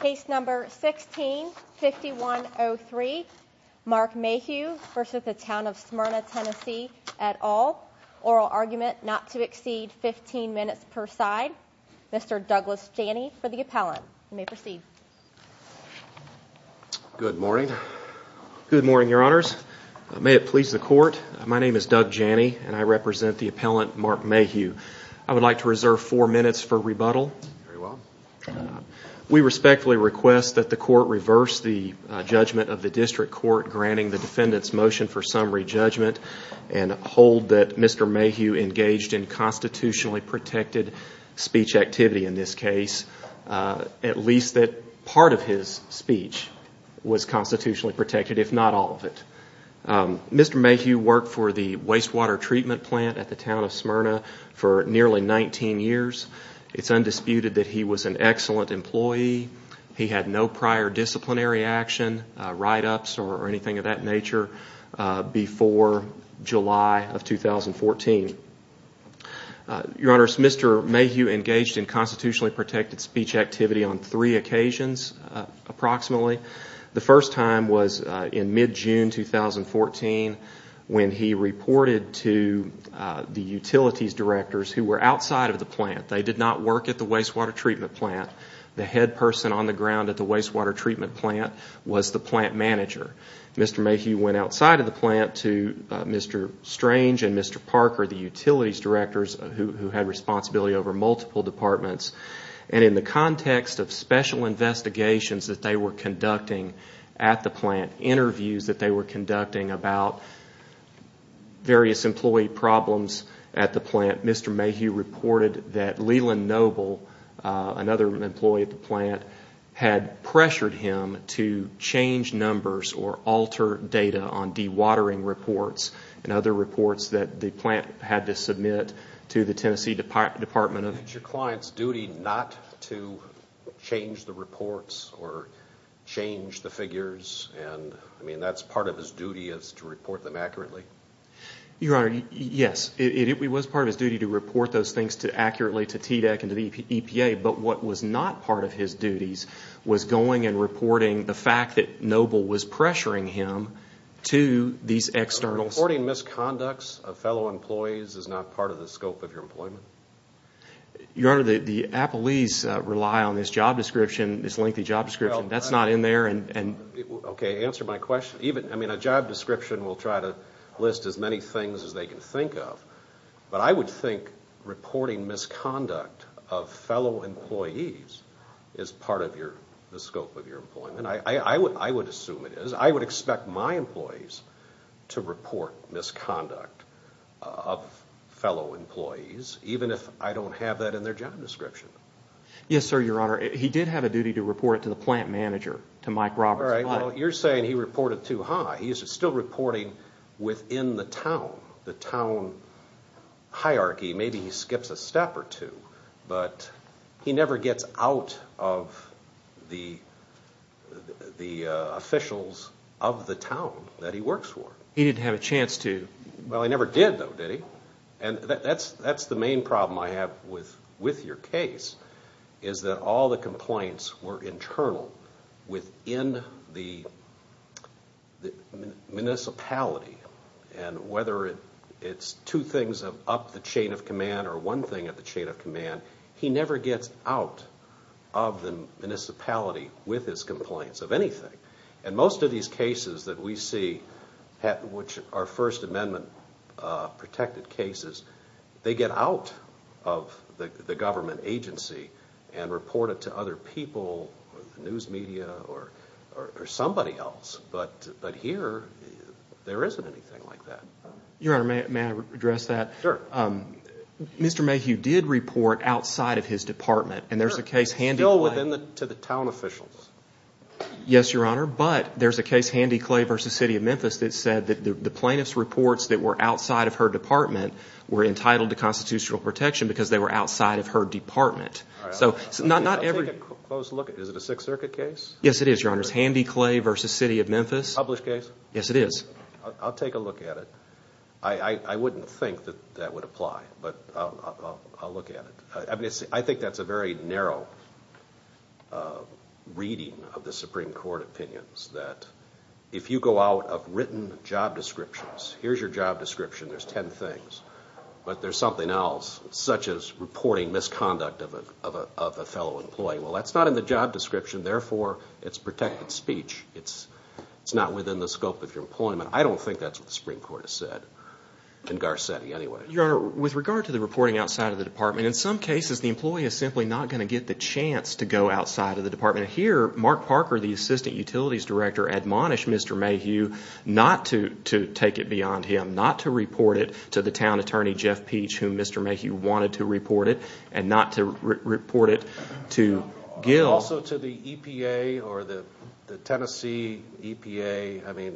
Case number 16-5103 Mark Mayhew v. Town of Smyrna, TN et al. Oral argument not to exceed 15 minutes per side. Mr. Douglas Janney for the appellant. You may proceed. Good morning. Good morning, your honors. May it please the court, my name is Doug Janney and I represent the appellant Mark Mayhew. I would like to reserve four minutes for rebuttal. Very well. We respectfully request that the court reverse the judgment of the district court granting the defendant's motion for summary judgment and hold that Mr. Mayhew engaged in constitutionally protected speech activity in this case, at least that part of his speech was constitutionally protected, if not all of it. Mr. Mayhew worked for the wastewater treatment plant at the town of Smyrna for nearly 19 years. It's undisputed that he was an excellent employee. He had no prior disciplinary action, write-ups or anything of that nature before July of 2014. Your honors, Mr. Mayhew engaged in constitutionally protected speech activity on three occasions approximately. The first time was in mid-June 2014 when he reported to the utilities directors who were outside of the plant. They did not work at the wastewater treatment plant. The head person on the ground at the wastewater treatment plant was the plant manager. Mr. Mayhew went outside of the plant to Mr. Strange and Mr. Parker, the utilities directors, who had responsibility over multiple departments. In the context of special investigations that they were conducting at the plant, interviews that they were conducting about various employee problems at the plant, Mr. Mayhew reported that Leland Noble, another employee at the plant, had pressured him to change numbers or alter data on dewatering reports and other reports that the plant had to submit to the Tennessee Department of... Is it your client's duty not to change the reports or change the figures? I mean, that's part of his duty is to report them accurately? Your honor, yes. It was part of his duty to report those things accurately to TDEC and to the EPA, but what was not part of his duties was going and reporting the fact that Noble was pressuring him to these external... Your honor, the appellees rely on this job description, this lengthy job description. That's not in there and... Okay, answer my question. I mean, a job description will try to list as many things as they can think of, but I would think reporting misconduct of fellow employees is part of the scope of your employment. I would assume it is. I would expect my employees to report misconduct of fellow employees, even if I don't have that in their job description. Yes, sir, your honor. He did have a duty to report it to the plant manager, to Mike Roberts. All right, well, you're saying he reported too high. He's still reporting within the town, the town hierarchy. Maybe he skips a step or two, but he never gets out of the officials of the town that he works for. He didn't have a chance to. Well, he never did, though, did he? No. And that's the main problem I have with your case, is that all the complaints were internal within the municipality. And whether it's two things up the chain of command or one thing at the chain of command, he never gets out of the municipality with his complaints of anything. And most of these cases that we see, which are First Amendment-protected cases, they get out of the government agency and report it to other people, news media, or somebody else. But here, there isn't anything like that. Your honor, may I address that? Sure. Mr. Mayhew did report outside of his department, and there's a case handling that. Still to the town officials. Yes, your honor. But there's a case, Handy Clay v. City of Memphis, that said that the plaintiff's reports that were outside of her department were entitled to constitutional protection because they were outside of her department. I'll take a close look at it. Is it a Sixth Circuit case? Yes, it is, your honor. It's Handy Clay v. City of Memphis. Published case? Yes, it is. I'll take a look at it. I wouldn't think that that would apply, but I'll look at it. I think that's a very narrow reading of the Supreme Court opinions, that if you go out of written job descriptions, here's your job description, there's ten things, but there's something else, such as reporting misconduct of a fellow employee. Well, that's not in the job description, therefore it's protected speech. It's not within the scope of your employment. I don't think that's what the Supreme Court has said, in Garcetti, anyway. Your honor, with regard to the reporting outside of the department, in some cases the employee is simply not going to get the chance to go outside of the department. Here, Mark Parker, the assistant utilities director, admonished Mr. Mayhew not to take it beyond him, not to report it to the town attorney, Jeff Peach, whom Mr. Mayhew wanted to report it, and not to report it to Gil. Also to the EPA or the Tennessee EPA.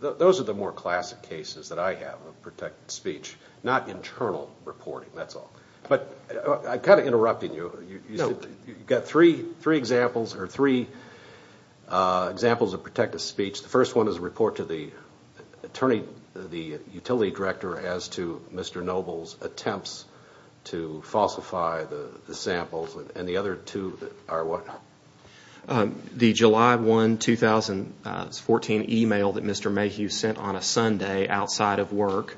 Those are the more classic cases that I have of protected speech, not internal reporting, that's all. I'm kind of interrupting you. You've got three examples of protected speech. The first one is a report to the utility director as to Mr. Noble's attempts to falsify the samples, and the other two are what? The July 1, 2014, email that Mr. Mayhew sent on a Sunday outside of work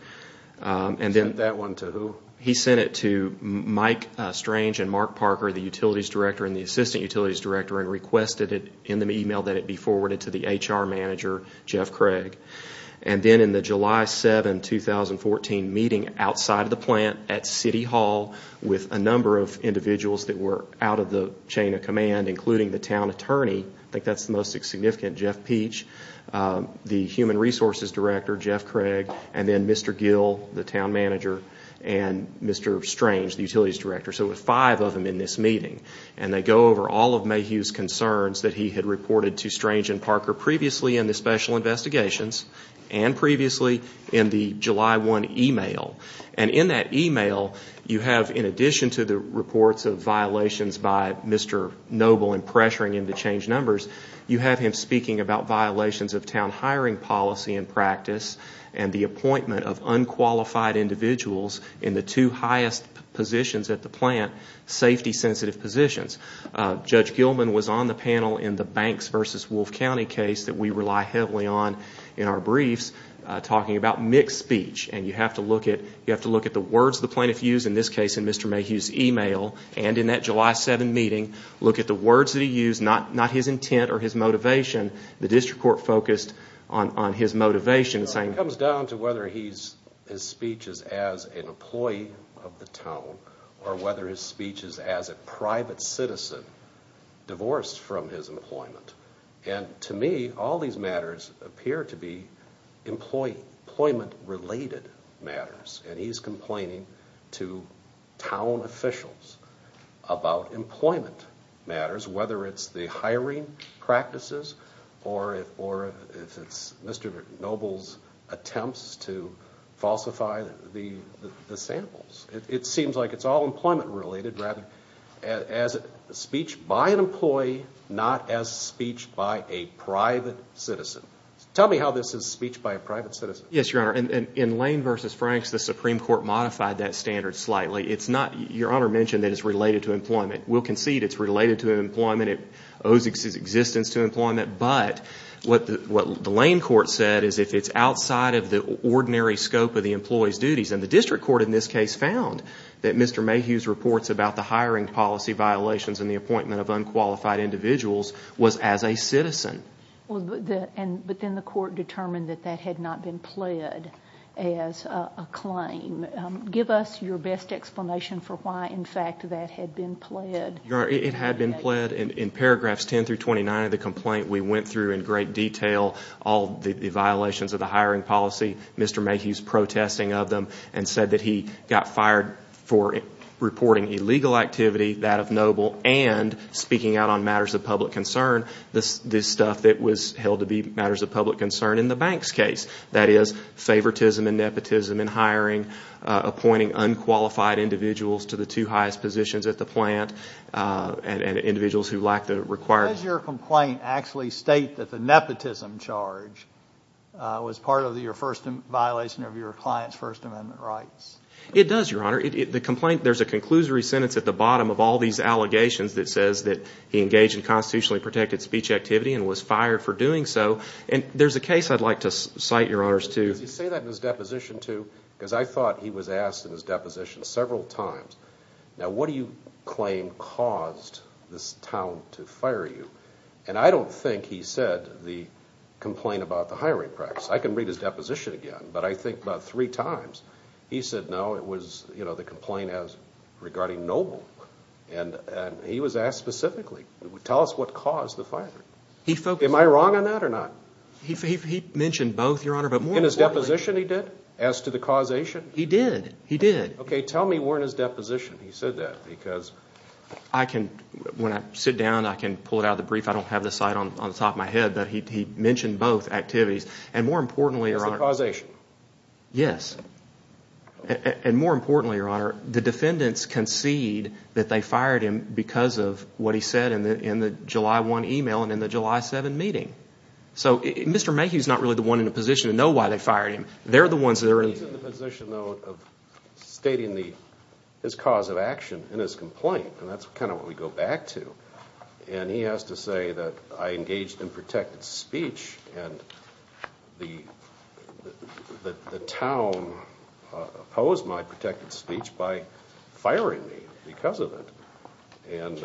He sent that one to who? He sent it to Mike Strange and Mark Parker, the utilities director and the assistant utilities director, and requested in the email that it be forwarded to the HR manager, Jeff Craig. Then in the July 7, 2014, meeting outside of the plant at City Hall with a number of individuals that were out of the chain of command, including the town attorney, I think that's the most significant, Jeff Peach, the human resources director, Jeff Craig, and then Mr. Gil, the town manager, and Mr. Strange, the utilities director. So there were five of them in this meeting. They go over all of Mayhew's concerns that he had reported to Strange and Parker previously in the special investigations and previously in the July 1 email. In that email, you have in addition to the reports of violations by Mr. Noble and pressuring him to change numbers, you have him speaking about violations of town hiring policy and practice and the appointment of unqualified individuals in the two highest positions at the plant, safety-sensitive positions. Judge Gilman was on the panel in the Banks v. Wolfe County case that we rely heavily on in our briefs, talking about mixed speech. You have to look at the words the plaintiff used, in this case in Mr. Mayhew's email, and in that July 7 meeting, look at the words that he used, not his intent or his motivation. The district court focused on his motivation. It comes down to whether his speech is as an employee of the town or whether his speech is as a private citizen divorced from his employment. To me, all these matters appear to be employment-related matters, and he's complaining to town officials about employment matters, whether it's the hiring practices or if it's Mr. Noble's attempts to falsify the samples. It seems like it's all employment-related rather as speech by an employee, not as speech by a private citizen. Tell me how this is speech by a private citizen. Yes, Your Honor. In Lane v. Franks, the Supreme Court modified that standard slightly. Your Honor mentioned that it's related to employment. We'll concede it's related to employment. It owes its existence to employment, but what the Lane court said is if it's outside of the ordinary scope of the employee's duties, and the district court in this case found that Mr. Mayhew's reports about the hiring policy violations and the appointment of unqualified individuals was as a citizen. But then the court determined that that had not been pled as a claim. Give us your best explanation for why, in fact, that had been pled. Your Honor, it had been pled. In paragraphs 10 through 29 of the complaint, we went through in great detail all the violations of the hiring policy, Mr. Mayhew's protesting of them, and said that he got fired for reporting illegal activity, that of Noble, and speaking out on matters of public concern, this stuff that was held to be matters of public concern in the bank's case. That is, favoritism and nepotism in hiring, appointing unqualified individuals to the two highest positions at the plant, and individuals who lack the required... Does your complaint actually state that the nepotism charge was part of your first violation of your client's First Amendment rights? It does, Your Honor. There's a conclusory sentence at the bottom of all these allegations that says that he engaged in constitutionally protected speech activity and was fired for doing so. And there's a case I'd like to cite, Your Honors, to... Did he say that in his deposition too? Because I thought he was asked in his deposition several times, now what do you claim caused this town to fire you? And I don't think he said the complaint about the hiring practice. I can read his deposition again, but I think about three times he said no, and it was the complaint regarding Noble. And he was asked specifically, tell us what caused the firing. Am I wrong on that or not? He mentioned both, Your Honor, but more importantly... In his deposition he did, as to the causation? He did, he did. Okay, tell me more in his deposition he said that, because... I can, when I sit down, I can pull it out of the brief. I don't have the cite on the top of my head, but he mentioned both activities. And more importantly, Your Honor... As to causation? Yes. And more importantly, Your Honor, the defendants concede that they fired him because of what he said in the July 1 email and in the July 7 meeting. So Mr. Mayhew is not really the one in a position to know why they fired him. They're the ones that are in... He's in the position, though, of stating his cause of action in his complaint, and that's kind of what we go back to. And he has to say that I engaged in protected speech, and the town opposed my protected speech by firing me because of it. And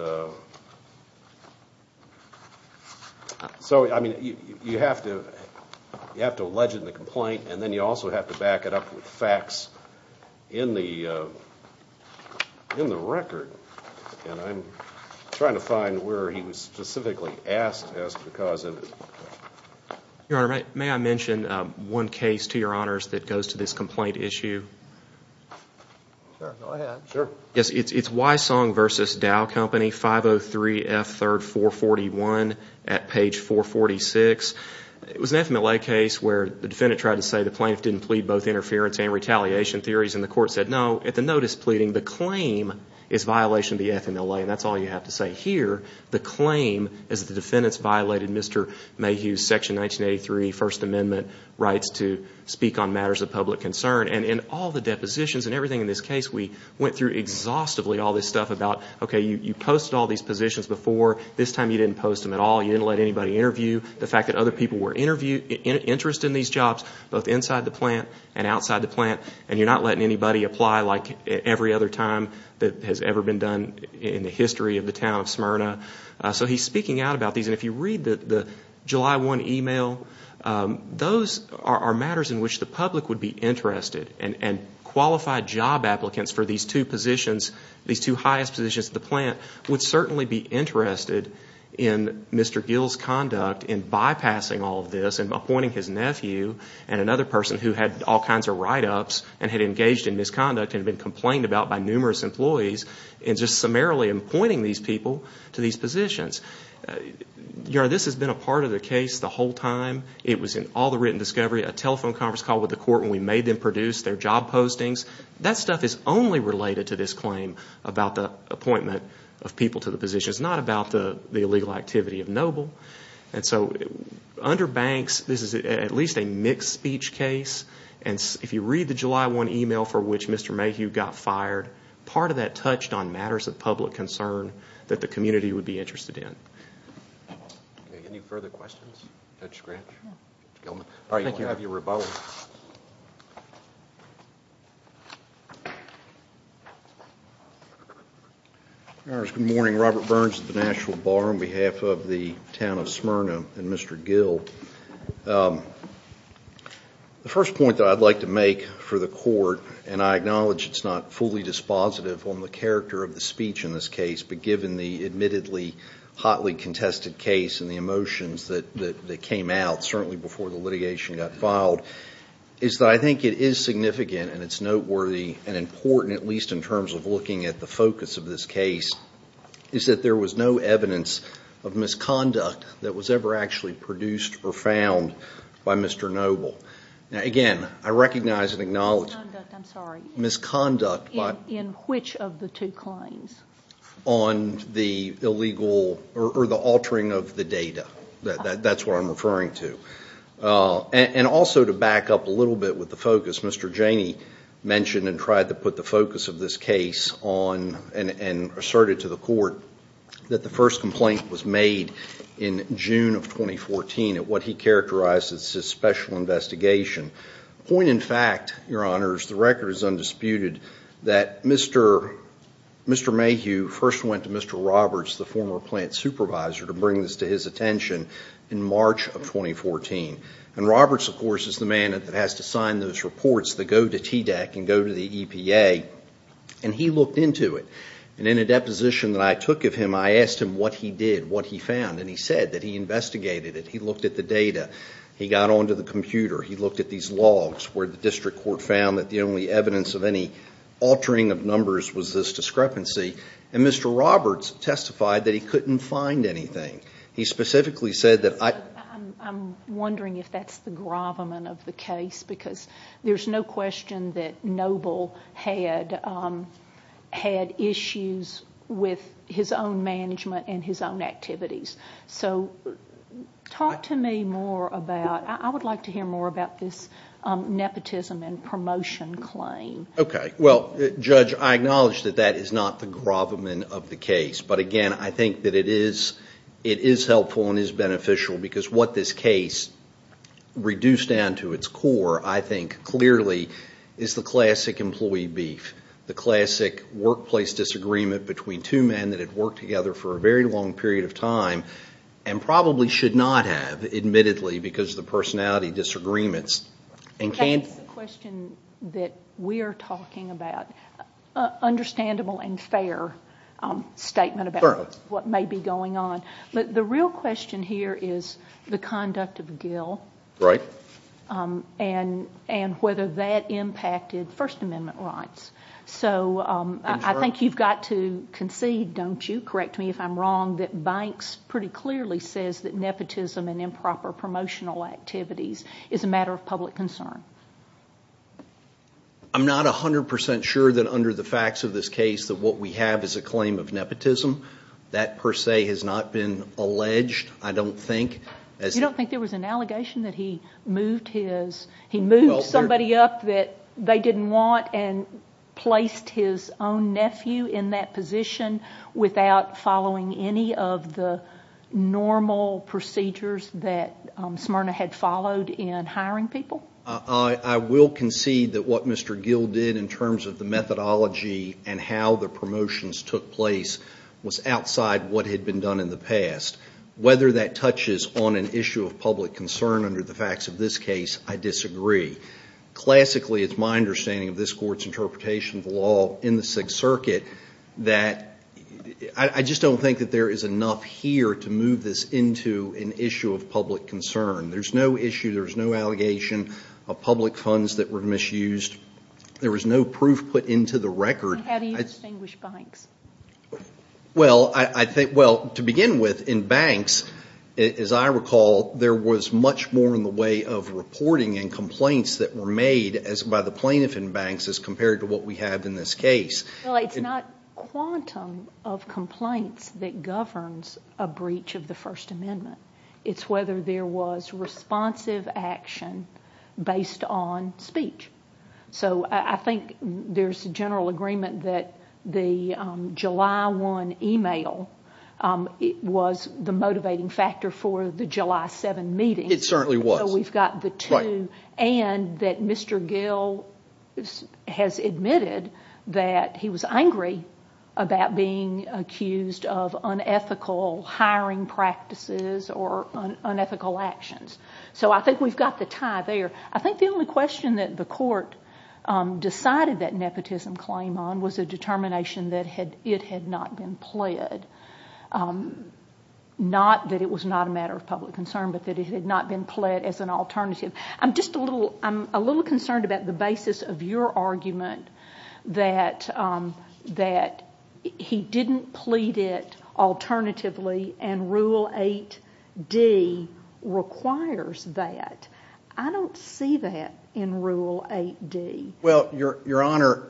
so, I mean, you have to allege in the complaint, and then you also have to back it up with facts in the record. And I'm trying to find where he was specifically asked to ask the cause of it. Your Honor, may I mention one case to Your Honors that goes to this complaint issue? Sure, go ahead. Yes, it's Wysong v. Dow Company, 503 F. 3rd 441 at page 446. It was an FMLA case where the defendant tried to say the plaintiff didn't plead both interference and retaliation theories, and the court said no. At the notice pleading, the claim is violation of the FMLA, and that's all you have to say here. The claim is the defendant's violated Mr. Mayhew's Section 1983 First Amendment rights to speak on matters of public concern. And in all the depositions and everything in this case, we went through exhaustively all this stuff about, okay, you posted all these positions before. This time you didn't post them at all. You didn't let anybody interview. both inside the plant and outside the plant, and you're not letting anybody apply like every other time that has ever been done in the history of the town of Smyrna. So he's speaking out about these. And if you read the July 1 email, those are matters in which the public would be interested. And qualified job applicants for these two positions, these two highest positions at the plant, would certainly be interested in Mr. Gill's conduct in bypassing all of this and appointing his nephew and another person who had all kinds of write-ups and had engaged in misconduct and had been complained about by numerous employees and just summarily appointing these people to these positions. This has been a part of the case the whole time. It was in all the written discovery, a telephone conference call with the court when we made them produce their job postings. That stuff is only related to this claim about the appointment of people to the positions, not about the illegal activity of Noble. And so under Banks, this is at least a mixed speech case. And if you read the July 1 email for which Mr. Mayhew got fired, part of that touched on matters of public concern that the community would be interested in. Any further questions? Judge Scratch? No. All right, we'll have you rebuttal. Good morning. Robert Burns at the Nashville Bar on behalf of the town of Smyrna and Mr. Gill. The first point that I'd like to make for the court, and I acknowledge it's not fully dispositive on the character of the speech in this case, but given the admittedly hotly contested case and the emotions that came out certainly before the litigation got filed, is that I think it is significant and it's noteworthy and important, at least in terms of looking at the focus of this case, is that there was no evidence of misconduct that was ever actually produced or found by Mr. Noble. Now, again, I recognize and acknowledge misconduct. In which of the two claims? On the illegal or the altering of the data. That's what I'm referring to. And also to back up a little bit with the focus, Mr. Janey mentioned and tried to put the focus of this case on and asserted to the court that the first complaint was made in June of 2014 at what he characterized as his special investigation. Point in fact, Your Honors, the record is undisputed that Mr. Mayhew first went to Mr. Roberts, the former plant supervisor, to bring this to his attention in March of 2014. And Roberts, of course, is the man that has to sign those reports that go to TDEC and go to the EPA. And he looked into it. And in a deposition that I took of him, I asked him what he did, what he found. And he said that he investigated it. He looked at the data. He got onto the computer. He looked at these logs where the district court found that the only evidence of any altering of numbers was this discrepancy. And Mr. Roberts testified that he couldn't find anything. He specifically said that I I'm wondering if that's the gravamen of the case, because there's no question that Noble had issues with his own management and his own activities. So talk to me more about I would like to hear more about this nepotism and promotion claim. Okay. Well, Judge, I acknowledge that that is not the gravamen of the case. But, again, I think that it is helpful and is beneficial because what this case reduced down to its core, I think, clearly, is the classic employee beef, the classic workplace disagreement between two men that had worked together for a very long period of time and probably should not have, admittedly, because of the personality disagreements. That's the question that we're talking about. An understandable and fair statement about what may be going on. But the real question here is the conduct of Gill and whether that impacted First Amendment rights. So I think you've got to concede, don't you, correct me if I'm wrong, that Banks pretty clearly says that nepotism and improper promotional activities is a matter of public concern. I'm not 100% sure that under the facts of this case that what we have is a claim of nepotism. That, per se, has not been alleged, I don't think. You don't think there was an allegation that he moved somebody up that they didn't want and placed his own nephew in that position without following any of the normal procedures that Smyrna had followed in hiring people? I will concede that what Mr. Gill did in terms of the methodology and how the promotions took place was outside what had been done in the past. Whether that touches on an issue of public concern under the facts of this case, I disagree. Classically, it's my understanding of this Court's interpretation of the law in the Sixth Circuit that I just don't think that there is enough here to move this into an issue of public concern. There's no issue, there's no allegation of public funds that were misused. There was no proof put into the record. How do you distinguish Banks? Well, to begin with, in Banks, as I recall, there was much more in the way of reporting and complaints that were made by the plaintiff in Banks as compared to what we have in this case. Well, it's not quantum of complaints that governs a breach of the First Amendment. It's whether there was responsive action based on speech. So I think there's a general agreement that the July 1 email was the motivating factor for the July 7 meeting. It certainly was. So we've got the two. And that Mr. Gill has admitted that he was angry about being accused of unethical hiring practices or unethical actions. So I think we've got the tie there. I think the only question that the court decided that nepotism claim on was a determination that it had not been pled. Not that it was not a matter of public concern, but that it had not been pled as an alternative. I'm just a little concerned about the basis of your argument that he didn't plead it alternatively and Rule 8D requires that. I don't see that in Rule 8D. Well, Your Honor,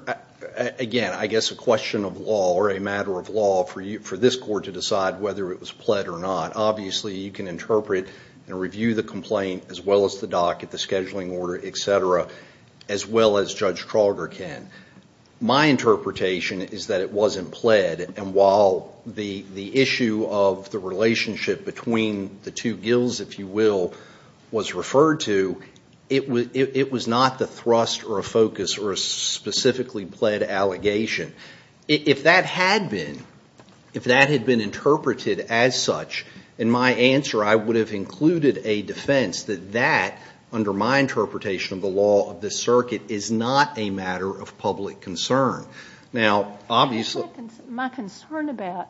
again, I guess a question of law or a matter of law for this court to decide whether it was pled or not. Obviously, you can interpret and review the complaint as well as the doc at the scheduling order, et cetera, as well as Judge Trauger can. My interpretation is that it wasn't pled. And while the issue of the relationship between the two Gills, if you will, was referred to, it was not the thrust or a focus or a specifically pled allegation. If that had been interpreted as such, in my answer, I would have included a defense that that, or my interpretation of the law of this circuit, is not a matter of public concern. Now, obviously... My concern about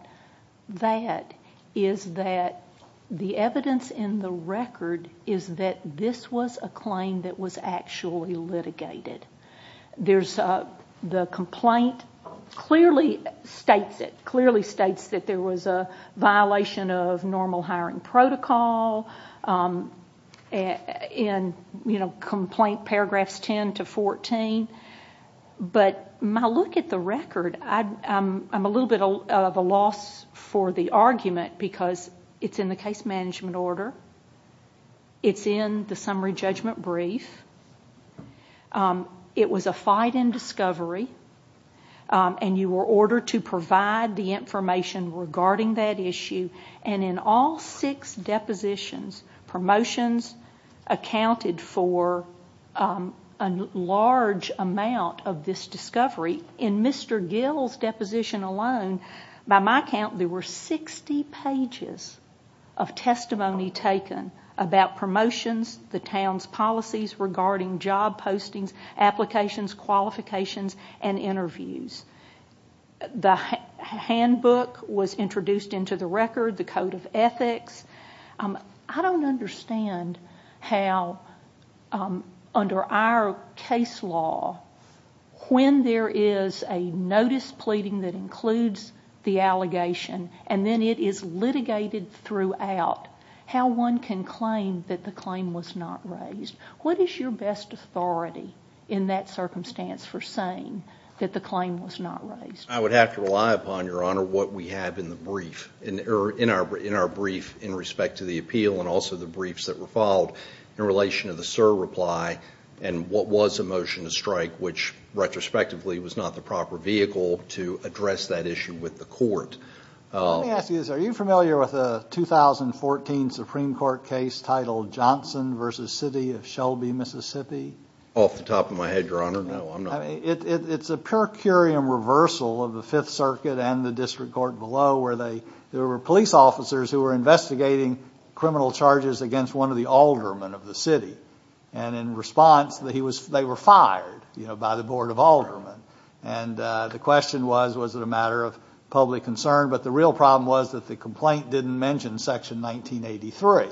that is that the evidence in the record is that this was a claim that was actually litigated. The complaint clearly states it. It clearly states that there was a violation of normal hiring protocol in complaint paragraphs 10 to 14. But my look at the record, I'm a little bit of a loss for the argument because it's in the case management order. It's in the summary judgment brief. It was a fight in discovery. And you were ordered to provide the information regarding that issue. And in all six depositions, promotions accounted for a large amount of this discovery. In Mr. Gill's deposition alone, by my count, there were 60 pages of testimony taken about promotions, the town's policies regarding job postings, applications, qualifications, and interviews. The handbook was introduced into the record, the code of ethics. I don't understand how, under our case law, when there is a notice pleading that includes the allegation, and then it is litigated throughout, how one can claim that the claim was not raised. What is your best authority in that circumstance for saying that the claim was not raised? I would have to rely upon, Your Honor, what we have in our brief in respect to the appeal and also the briefs that were followed in relation to the SIR reply and what was a motion to strike, which retrospectively was not the proper vehicle to address that issue with the court. Let me ask you this. Are you familiar with a 2014 Supreme Court case titled Johnson v. City of Shelby, Mississippi? Off the top of my head, Your Honor. No, I'm not. It's a pure curiam reversal of the Fifth Circuit and the district court below where there were police officers who were investigating criminal charges against one of the aldermen of the city. In response, they were fired by the Board of Aldermen. The question was, was it a matter of public concern? But the real problem was that the complaint didn't mention Section 1983.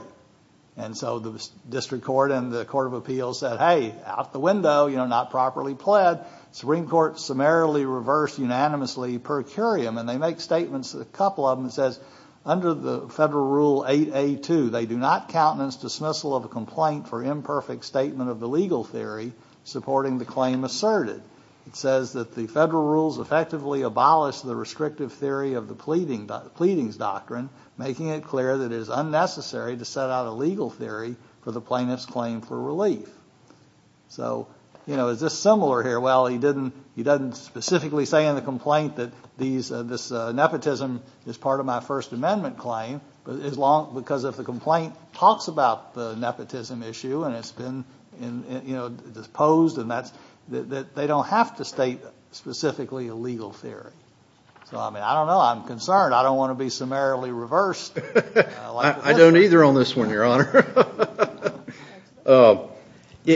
So the district court and the Court of Appeals said, hey, out the window, not properly pled. The Supreme Court summarily reversed unanimously per curiam. They make statements, a couple of them, that says, under the Federal Rule 8A2, they do not countenance dismissal of a complaint for imperfect statement of the legal theory supporting the claim asserted. It says that the Federal Rules effectively abolish the restrictive theory of the pleadings doctrine, making it clear that it is unnecessary to set out a legal theory for the plaintiff's claim for relief. So, you know, is this similar here? Well, he doesn't specifically say in the complaint that this nepotism is part of my First Amendment claim, because if the complaint talks about the nepotism issue and it's been disposed, they don't have to state specifically a legal theory. So, I mean, I don't know. I'm concerned. I don't want to be summarily reversed. I don't either on this one, Your Honor.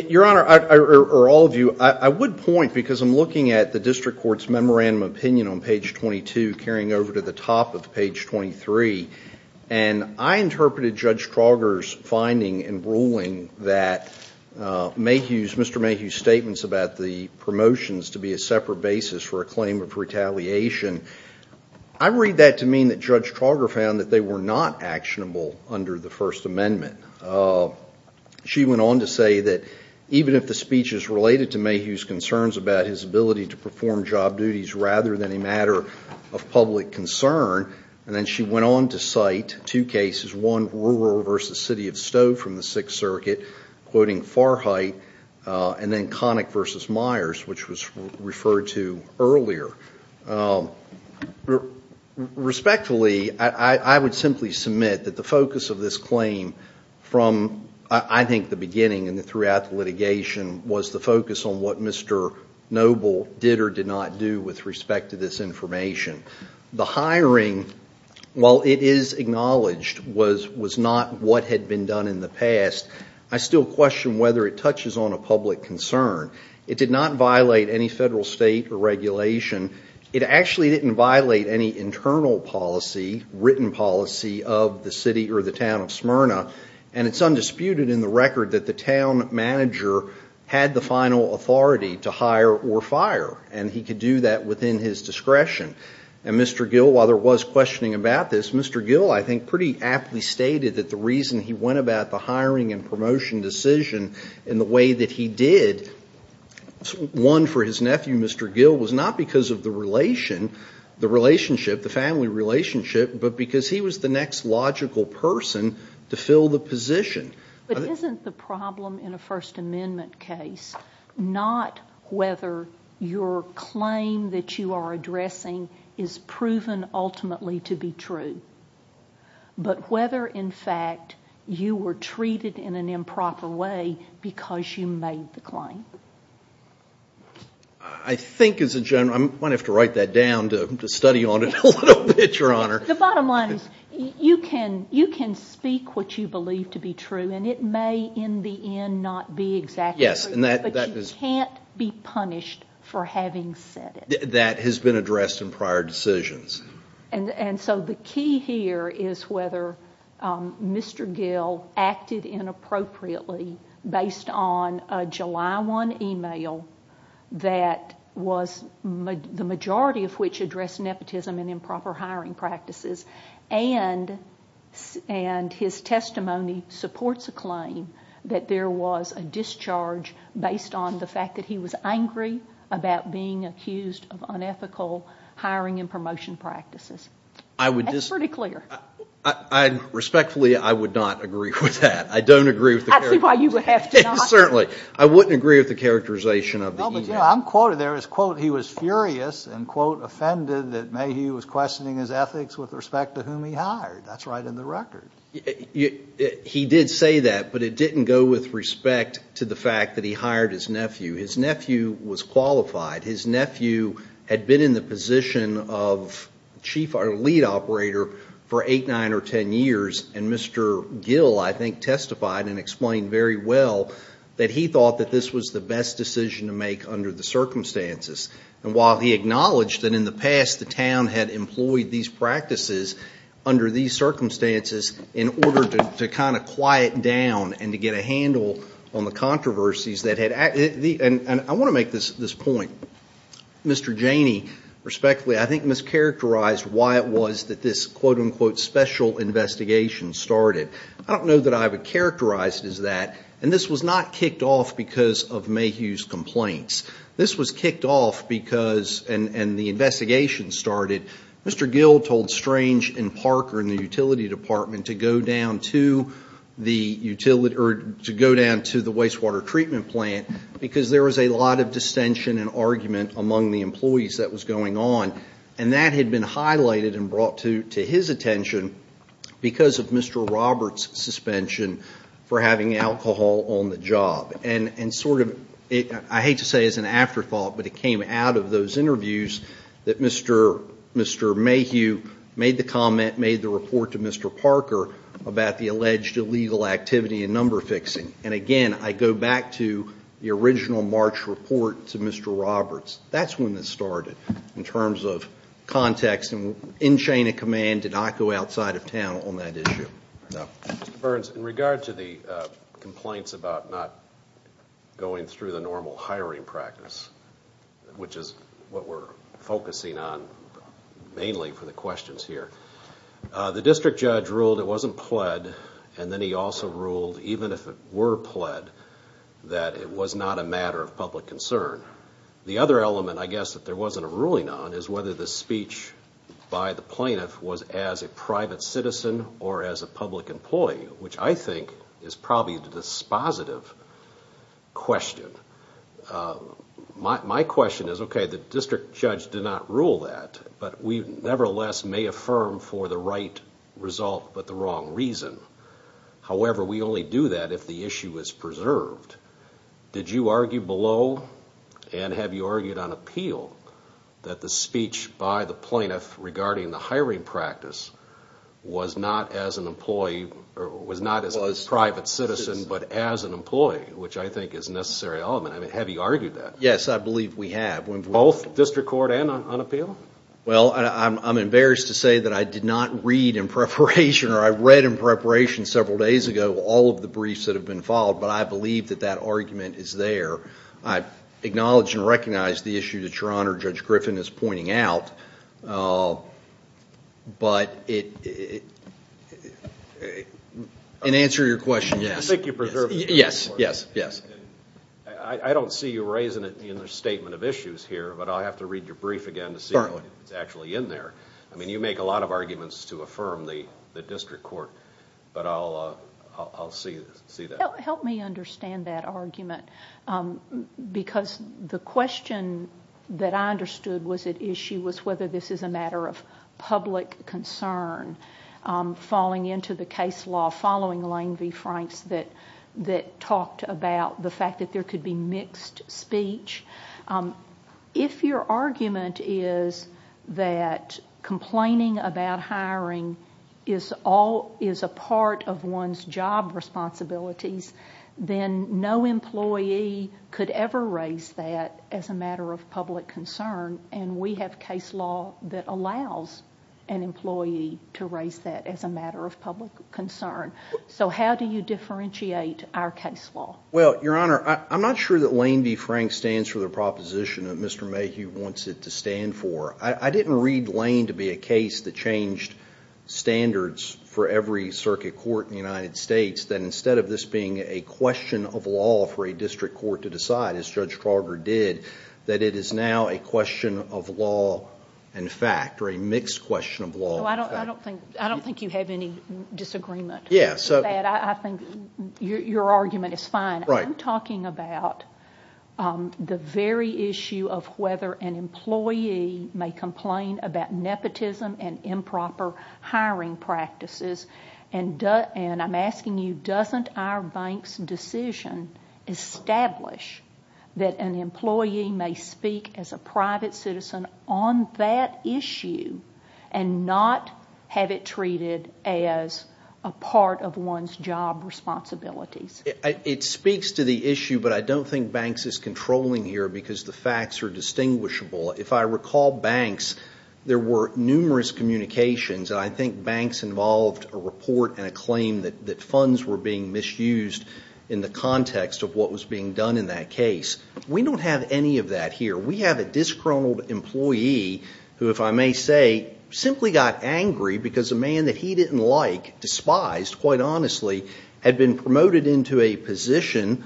Your Honor, or all of you, I would point, because I'm looking at the district court's memorandum opinion on page 22, carrying over to the top of page 23, and I interpreted Judge Trauger's finding and ruling that Mayhew's, Mr. Mayhew's statements about the promotions to be a separate basis for a claim of retaliation, I read that to mean that Judge Trauger found that they were not actionable under the First Amendment. She went on to say that even if the speech is related to Mayhew's concerns about his ability to perform job duties rather than a matter of public concern, and then she went on to cite two cases, one, Ruer v. City of Stowe from the Sixth Circuit, quoting Farhight, and then Connick v. Myers, which was referred to earlier. Respectfully, I would simply submit that the focus of this claim from, I think, the beginning and throughout litigation, was the focus on what Mr. Noble did or did not do with respect to this information. The hiring, while it is acknowledged, was not what had been done in the past. I still question whether it touches on a public concern. It did not violate any federal state regulation. It actually didn't violate any internal policy, written policy, of the city or the town of Smyrna, and it's undisputed in the record that the town manager had the final authority to hire or fire, and he could do that within his discretion. And Mr. Gill, while there was questioning about this, Mr. Gill, I think, pretty aptly stated that the reason he went about the hiring and promotion decision in the way that he did, one, for his nephew, Mr. Gill, was not because of the relationship, the family relationship, but because he was the next logical person to fill the position. But isn't the problem in a First Amendment case not whether your claim that you are addressing is proven ultimately to be true, but whether, in fact, you were treated in an improper way because you made the claim? I think, as a general, I might have to write that down to study on it a little bit, Your Honor. The bottom line is you can speak what you believe to be true, and it may in the end not be exactly true, but you can't be punished for having said it. That has been addressed in prior decisions. And so the key here is whether Mr. Gill acted inappropriately based on a July 1 email that was the majority of which addressed nepotism and improper hiring practices, and his testimony supports a claim that there was a discharge based on the fact that he was angry about being accused of unethical hiring and promotion practices. That's pretty clear. Respectfully, I would not agree with that. I don't agree with the characterization. I see why you would have to not. Certainly. I wouldn't agree with the characterization of the email. No, but, you know, I'm quoted there as, quote, he was furious and, quote, offended that Mayhew was questioning his ethics with respect to whom he hired. That's right in the record. He did say that, but it didn't go with respect to the fact that he hired his nephew. His nephew was qualified. His nephew had been in the position of chief or lead operator for 8, 9, or 10 years, and Mr. Gill, I think, testified and explained very well that he thought that this was the best decision to make under the circumstances. And while he acknowledged that in the past the town had employed these practices under these circumstances in order to kind of quiet down and to get a handle on the controversies, and I want to make this point, Mr. Janey, respectfully, I think mischaracterized why it was that this, quote, unquote, special investigation started. I don't know that I would characterize it as that, and this was not kicked off because of Mayhew's complaints. This was kicked off because, and the investigation started, Mr. Gill told Strange and Parker and the utility department to go down to the utility, or to go down to the wastewater treatment plant because there was a lot of dissension and argument among the employees that was going on. And that had been highlighted and brought to his attention because of Mr. Roberts' suspension for having alcohol on the job. And sort of, I hate to say it as an afterthought, but it came out of those interviews that Mr. Mayhew made the comment, made the report to Mr. Parker about the alleged illegal activity and number fixing. And again, I go back to the original March report to Mr. Roberts. That's when it started in terms of context, and in chain of command did not go outside of town on that issue. Mr. Burns, in regard to the complaints about not going through the normal hiring practice, which is what we're focusing on mainly for the questions here, the district judge ruled it wasn't pled, and then he also ruled, even if it were pled, that it was not a matter of public concern. The other element, I guess, that there wasn't a ruling on is whether the speech by the plaintiff was as a private citizen or as a public employee, which I think is probably the dispositive question. My question is, okay, the district judge did not rule that, but we nevertheless may affirm for the right result but the wrong reason. However, we only do that if the issue is preserved. Did you argue below, and have you argued on appeal, that the speech by the plaintiff regarding the hiring practice was not as a private citizen but as an employee, which I think is a necessary element? Have you argued that? Yes, I believe we have. Both district court and on appeal? Well, I'm embarrassed to say that I did not read in preparation, or I read in preparation several days ago, all of the briefs that have been filed, but I believe that that argument is there. I acknowledge and recognize the issue that Your Honor, Judge Griffin, is pointing out, but in answer to your question, yes. You think you preserved it? Yes, yes, yes. I don't see you raising it in the statement of issues here, but I'll have to read your brief again to see if it's actually in there. I mean, you make a lot of arguments to affirm the district court, but I'll see that. Help me understand that argument, because the question that I understood was at issue was whether this is a matter of public concern falling into the case law following Lane v. Franks that talked about the fact that there could be mixed speech. If your argument is that complaining about hiring is a part of one's job responsibilities, then no employee could ever raise that as a matter of public concern, and we have case law that allows an employee to raise that as a matter of public concern. So how do you differentiate our case law? Well, Your Honor, I'm not sure that Lane v. Franks stands for the proposition that Mr. Mayhew wants it to stand for. I didn't read Lane to be a case that changed standards for every circuit court in the United States, that instead of this being a question of law for a district court to decide, as Judge Trauger did, that it is now a question of law and fact, or a mixed question of law and fact. I don't think you have any disagreement with that. I think your argument is fine. I'm talking about the very issue of whether an employee may complain about nepotism and improper hiring practices, and I'm asking you, doesn't our bank's decision establish that an employee may speak as a private citizen on that issue and not have it treated as a part of one's job responsibilities? It speaks to the issue, but I don't think banks is controlling here because the facts are distinguishable. If I recall banks, there were numerous communications, and I think banks involved a report and a claim that funds were being misused in the context of what was being done in that case. We don't have any of that here. We have a disgruntled employee who, if I may say, simply got angry because a man that he didn't like, despised, quite honestly, had been promoted into a position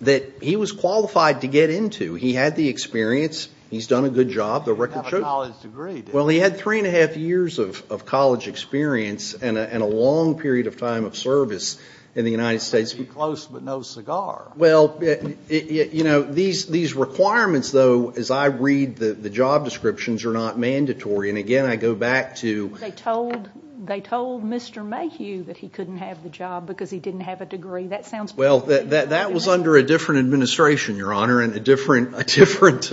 that he was qualified to get into. He had the experience. He's done a good job. He didn't have a college degree. Well, he had three and a half years of college experience and a long period of time of service in the United States. Close, but no cigar. Well, you know, these requirements, though, as I read the job descriptions, are not mandatory. And, again, I go back to – They told Mr. Mayhew that he couldn't have the job because he didn't have a degree. That sounds – Well, that was under a different administration, Your Honor, and a different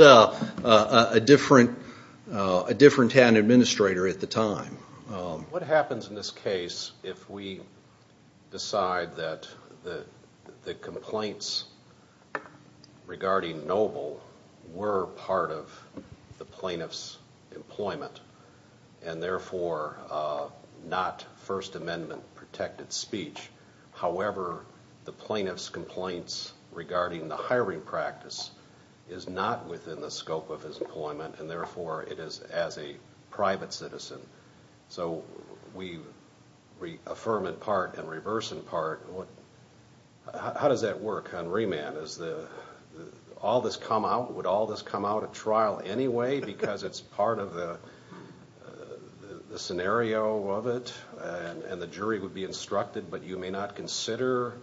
hand administrator at the time. What happens in this case if we decide that the complaints regarding Noble were part of the plaintiff's employment and, therefore, not First Amendment-protected speech, however, the plaintiff's complaints regarding the hiring practice is not within the scope of his employment and, therefore, it is as a private citizen? So we affirm in part and reverse in part. How does that work on remand? Would all this come out at trial anyway because it's part of the scenario of it and the jury would be instructed, but you may not consider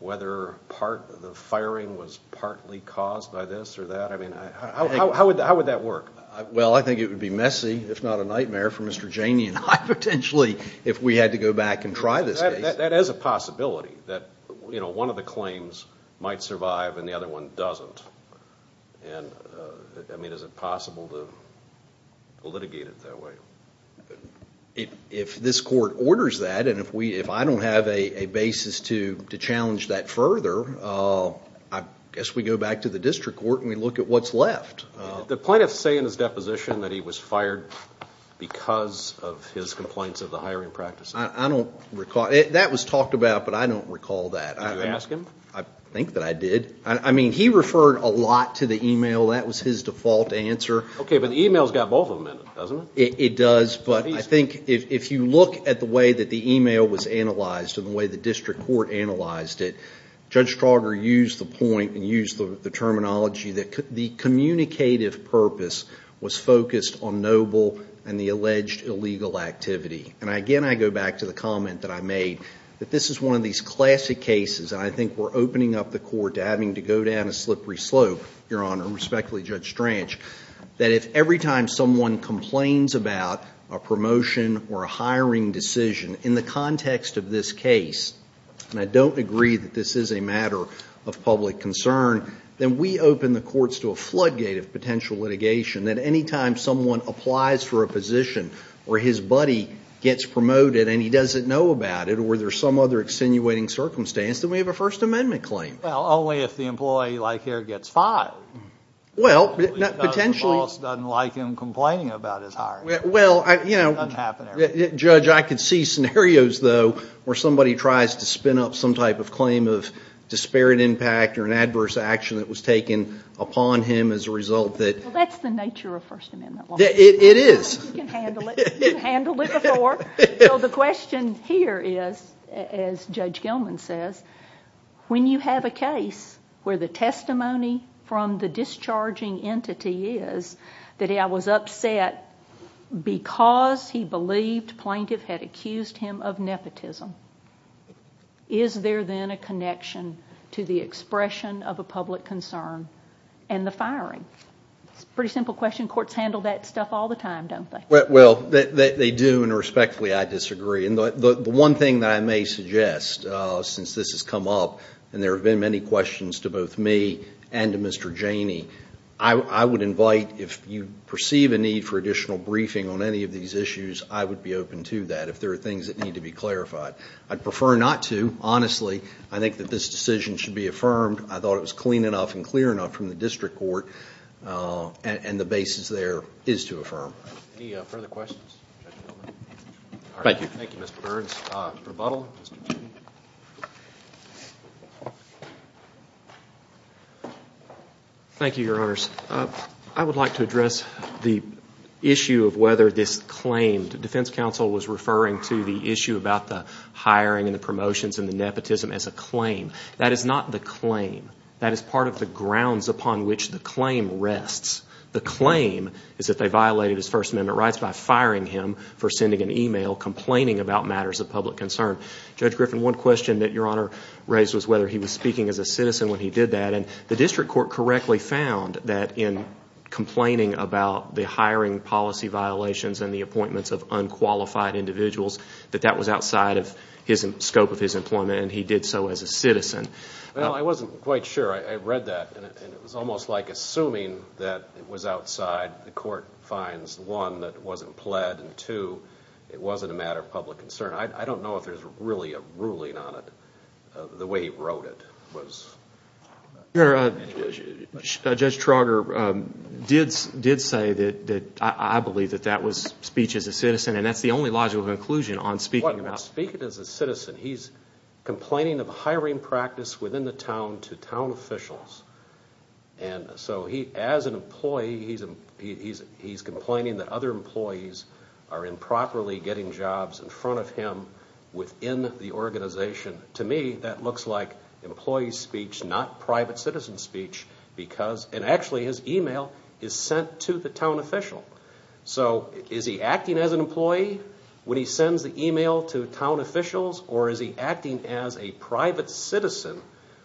whether the firing was partly caused by this or that? I mean, how would that work? Well, I think it would be messy, if not a nightmare, for Mr. Janey and I, potentially, if we had to go back and try this case. That is a possibility that one of the claims might survive and the other one doesn't. I mean, is it possible to litigate it that way? If this court orders that and if I don't have a basis to challenge that further, I guess we go back to the district court and we look at what's left. Did the plaintiff say in his deposition that he was fired because of his complaints of the hiring practice? I don't recall. That was talked about, but I don't recall that. Did you ask him? I think that I did. I mean, he referred a lot to the email. That was his default answer. Okay, but the email's got both of them in it, doesn't it? It does, but I think if you look at the way that the email was analyzed and the way the district court analyzed it, Judge Strauger used the point and used the terminology that the communicative purpose was focused on noble and the alleged illegal activity. Again, I go back to the comment that I made that this is one of these classic cases, and I think we're opening up the court to having to go down a slippery slope, Your Honor, respectfully, Judge Strange, that if every time someone complains about a promotion or a hiring decision in the context of this case, and I don't agree that this is a matter of public concern, then we open the courts to a floodgate of potential litigation that any time someone applies for a position or his buddy gets promoted and he doesn't know about it or there's some other extenuating circumstance, then we have a First Amendment claim. Well, only if the employee like here gets fired. Well, potentially. Because the boss doesn't like him complaining about his hiring. Well, you know, Judge, I could see scenarios, though, where somebody tries to spin up some type of claim of disparate impact or an adverse action that was taken upon him as a result that... Well, that's the nature of First Amendment law. It is. You can handle it. You handled it before. So the question here is, as Judge Gilman says, when you have a case where the testimony from the discharging entity is that I was upset because he believed plaintiff had accused him of nepotism, is there then a connection to the expression of a public concern and the firing? It's a pretty simple question. Courts handle that stuff all the time, don't they? Well, they do, and respectfully, I disagree. The one thing that I may suggest, since this has come up and there have been many questions to both me and to Mr. Janey, I would invite if you perceive a need for additional briefing on any of these issues, I would be open to that if there are things that need to be clarified. I'd prefer not to, honestly. I think that this decision should be affirmed. I thought it was clean enough and clear enough from the district court, and the basis there is to affirm. Any further questions, Judge Gilman? Thank you, Mr. Burns. Mr. Buddle? Thank you, Your Honors. I would like to address the issue of whether this claim, the defense counsel was referring to the issue about the hiring and the promotions and the nepotism as a claim. That is not the claim. That is part of the grounds upon which the claim rests. The claim is that they violated his First Amendment rights by firing him for sending an email complaining about matters of public concern. Judge Griffin, one question that Your Honor raised was whether he was speaking as a citizen when he did that, and the district court correctly found that in complaining about the hiring policy violations and the appointments of unqualified individuals, that that was outside of the scope of his employment, and he did so as a citizen. Well, I wasn't quite sure. I read that, and it was almost like assuming that it was outside. The court finds, one, that it wasn't pled, and, two, it wasn't a matter of public concern. I don't know if there's really a ruling on it. The way he wrote it was. Your Honor, Judge Trauger did say that I believe that that was speech as a citizen, and that's the only logical conclusion on speaking as a citizen. He's complaining of hiring practice within the town to town officials, and so he, as an employee, he's complaining that other employees are improperly getting jobs in front of him within the organization. To me, that looks like employee speech, not private citizen speech, because, and actually his email is sent to the town official. So is he acting as an employee when he sends the email to town officials, or is he acting as a private citizen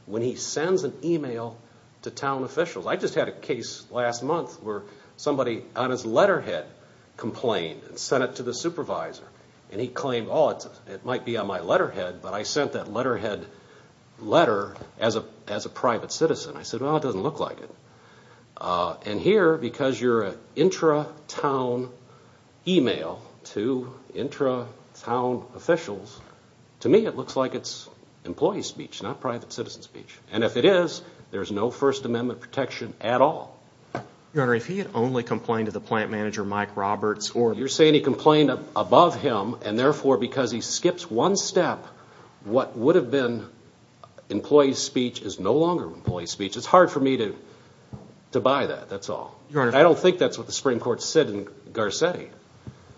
when he sends an email to town officials? I just had a case last month where somebody on his letterhead complained and sent it to the supervisor, and he claimed, oh, it might be on my letterhead, but I sent that letterhead letter as a private citizen. I said, well, it doesn't look like it. And here, because you're an intra-town email to intra-town officials, to me it looks like it's employee speech, not private citizen speech. And if it is, there's no First Amendment protection at all. Your Honor, if he had only complained to the plant manager, Mike Roberts, or You're saying he complained above him, and therefore because he skips one step, what would have been employee speech is no longer employee speech. It's hard for me to buy that, that's all. Your Honor, I don't think that's what the Supreme Court said in Garcetti.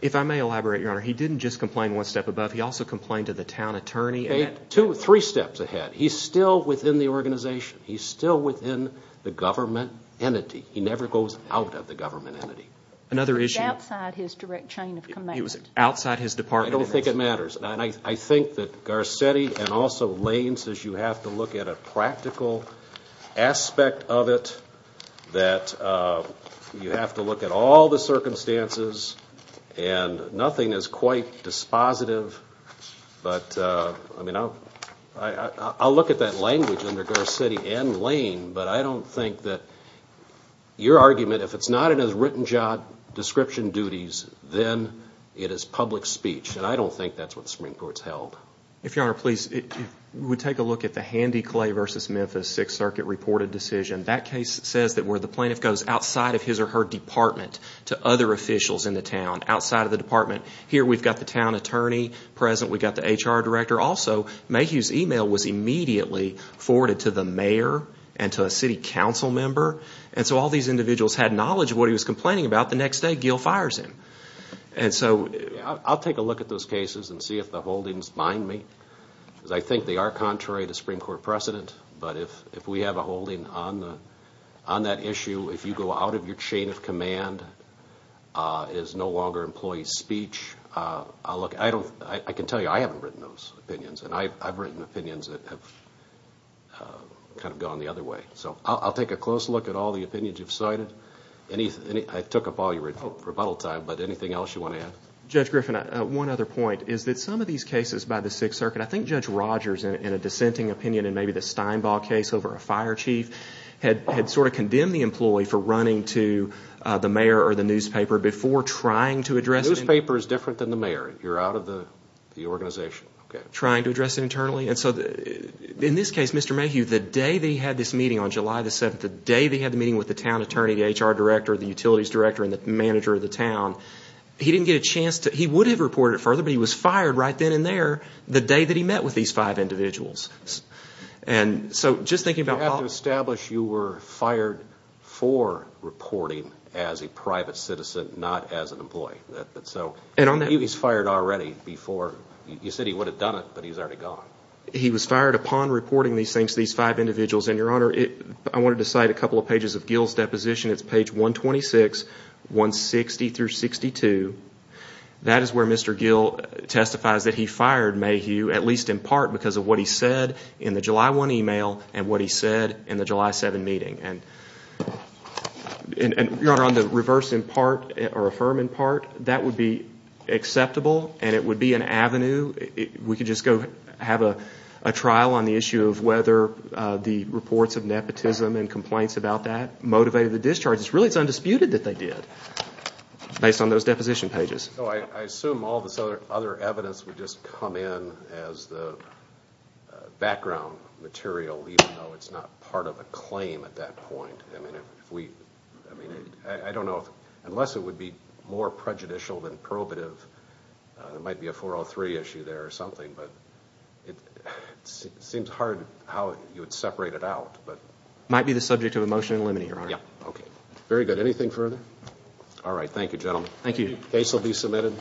If I may elaborate, Your Honor, he didn't just complain one step above. He also complained to the town attorney. Three steps ahead. He's still within the organization. He's still within the government entity. He never goes out of the government entity. It was outside his direct chain of command. It was outside his department. I don't think it matters. And I think that Garcetti and also Lane says you have to look at a practical aspect of it, that you have to look at all the circumstances, and nothing is quite dispositive, but I'll look at that language under Garcetti and Lane, but I don't think that your argument, if it's not in his written job description duties, then it is public speech. And I don't think that's what the Supreme Court's held. If Your Honor, please, if we take a look at the Handy Clay v. Memphis Sixth Circuit reported decision, that case says that where the plaintiff goes outside of his or her department to other officials in the town, outside of the department, here we've got the town attorney present, we've got the HR director. Also, Mayhew's email was immediately forwarded to the mayor and to a city council member, and so all these individuals had knowledge of what he was complaining about. The next day, Gill fires him. And so I'll take a look at those cases and see if the holdings bind me, because I think they are contrary to Supreme Court precedent, but if we have a holding on that issue, if you go out of your chain of command, it is no longer employee speech. I can tell you I haven't written those opinions, and I've written opinions that have kind of gone the other way. So I'll take a close look at all the opinions you've cited. I took up all your rebuttal time, but anything else you want to add? Judge Griffin, one other point is that some of these cases by the Sixth Circuit, I think Judge Rogers, in a dissenting opinion, in maybe the Steinbaugh case over a fire chief, had sort of condemned the employee for running to the mayor or the newspaper before trying to address it. The newspaper is different than the mayor. You're out of the organization. Trying to address it internally. In this case, Mr. Mayhew, the day they had this meeting on July 7th, the day they had the meeting with the town attorney, the HR director, the utilities director, and the manager of the town, he didn't get a chance to – he would have reported it further, but he was fired right then and there the day that he met with these five individuals. And so just thinking about – You have to establish you were fired for reporting as a private citizen, not as an employee. And on that – He was fired already before – you said he would have done it, but he's already gone. He was fired upon reporting these things to these five individuals. And, Your Honor, I wanted to cite a couple of pages of Gill's deposition. It's page 126, 160 through 62. That is where Mr. Gill testifies that he fired Mayhew, at least in part because of what he said in the July 1 email and what he said in the July 7 meeting. And, Your Honor, on the reverse in part or affirm in part, that would be acceptable and it would be an avenue. We could just go have a trial on the issue of whether the reports of nepotism and complaints about that motivated the discharges. Really, it's undisputed that they did, based on those deposition pages. I assume all this other evidence would just come in as the background material, even though it's not part of a claim at that point. I don't know if – unless it would be more prejudicial than probative. There might be a 403 issue there or something, but it seems hard how you would separate it out. It might be the subject of a motion to eliminate, Your Honor. Okay. Very good. Anything further? All right. Thank you, gentlemen. Thank you. The case will be submitted.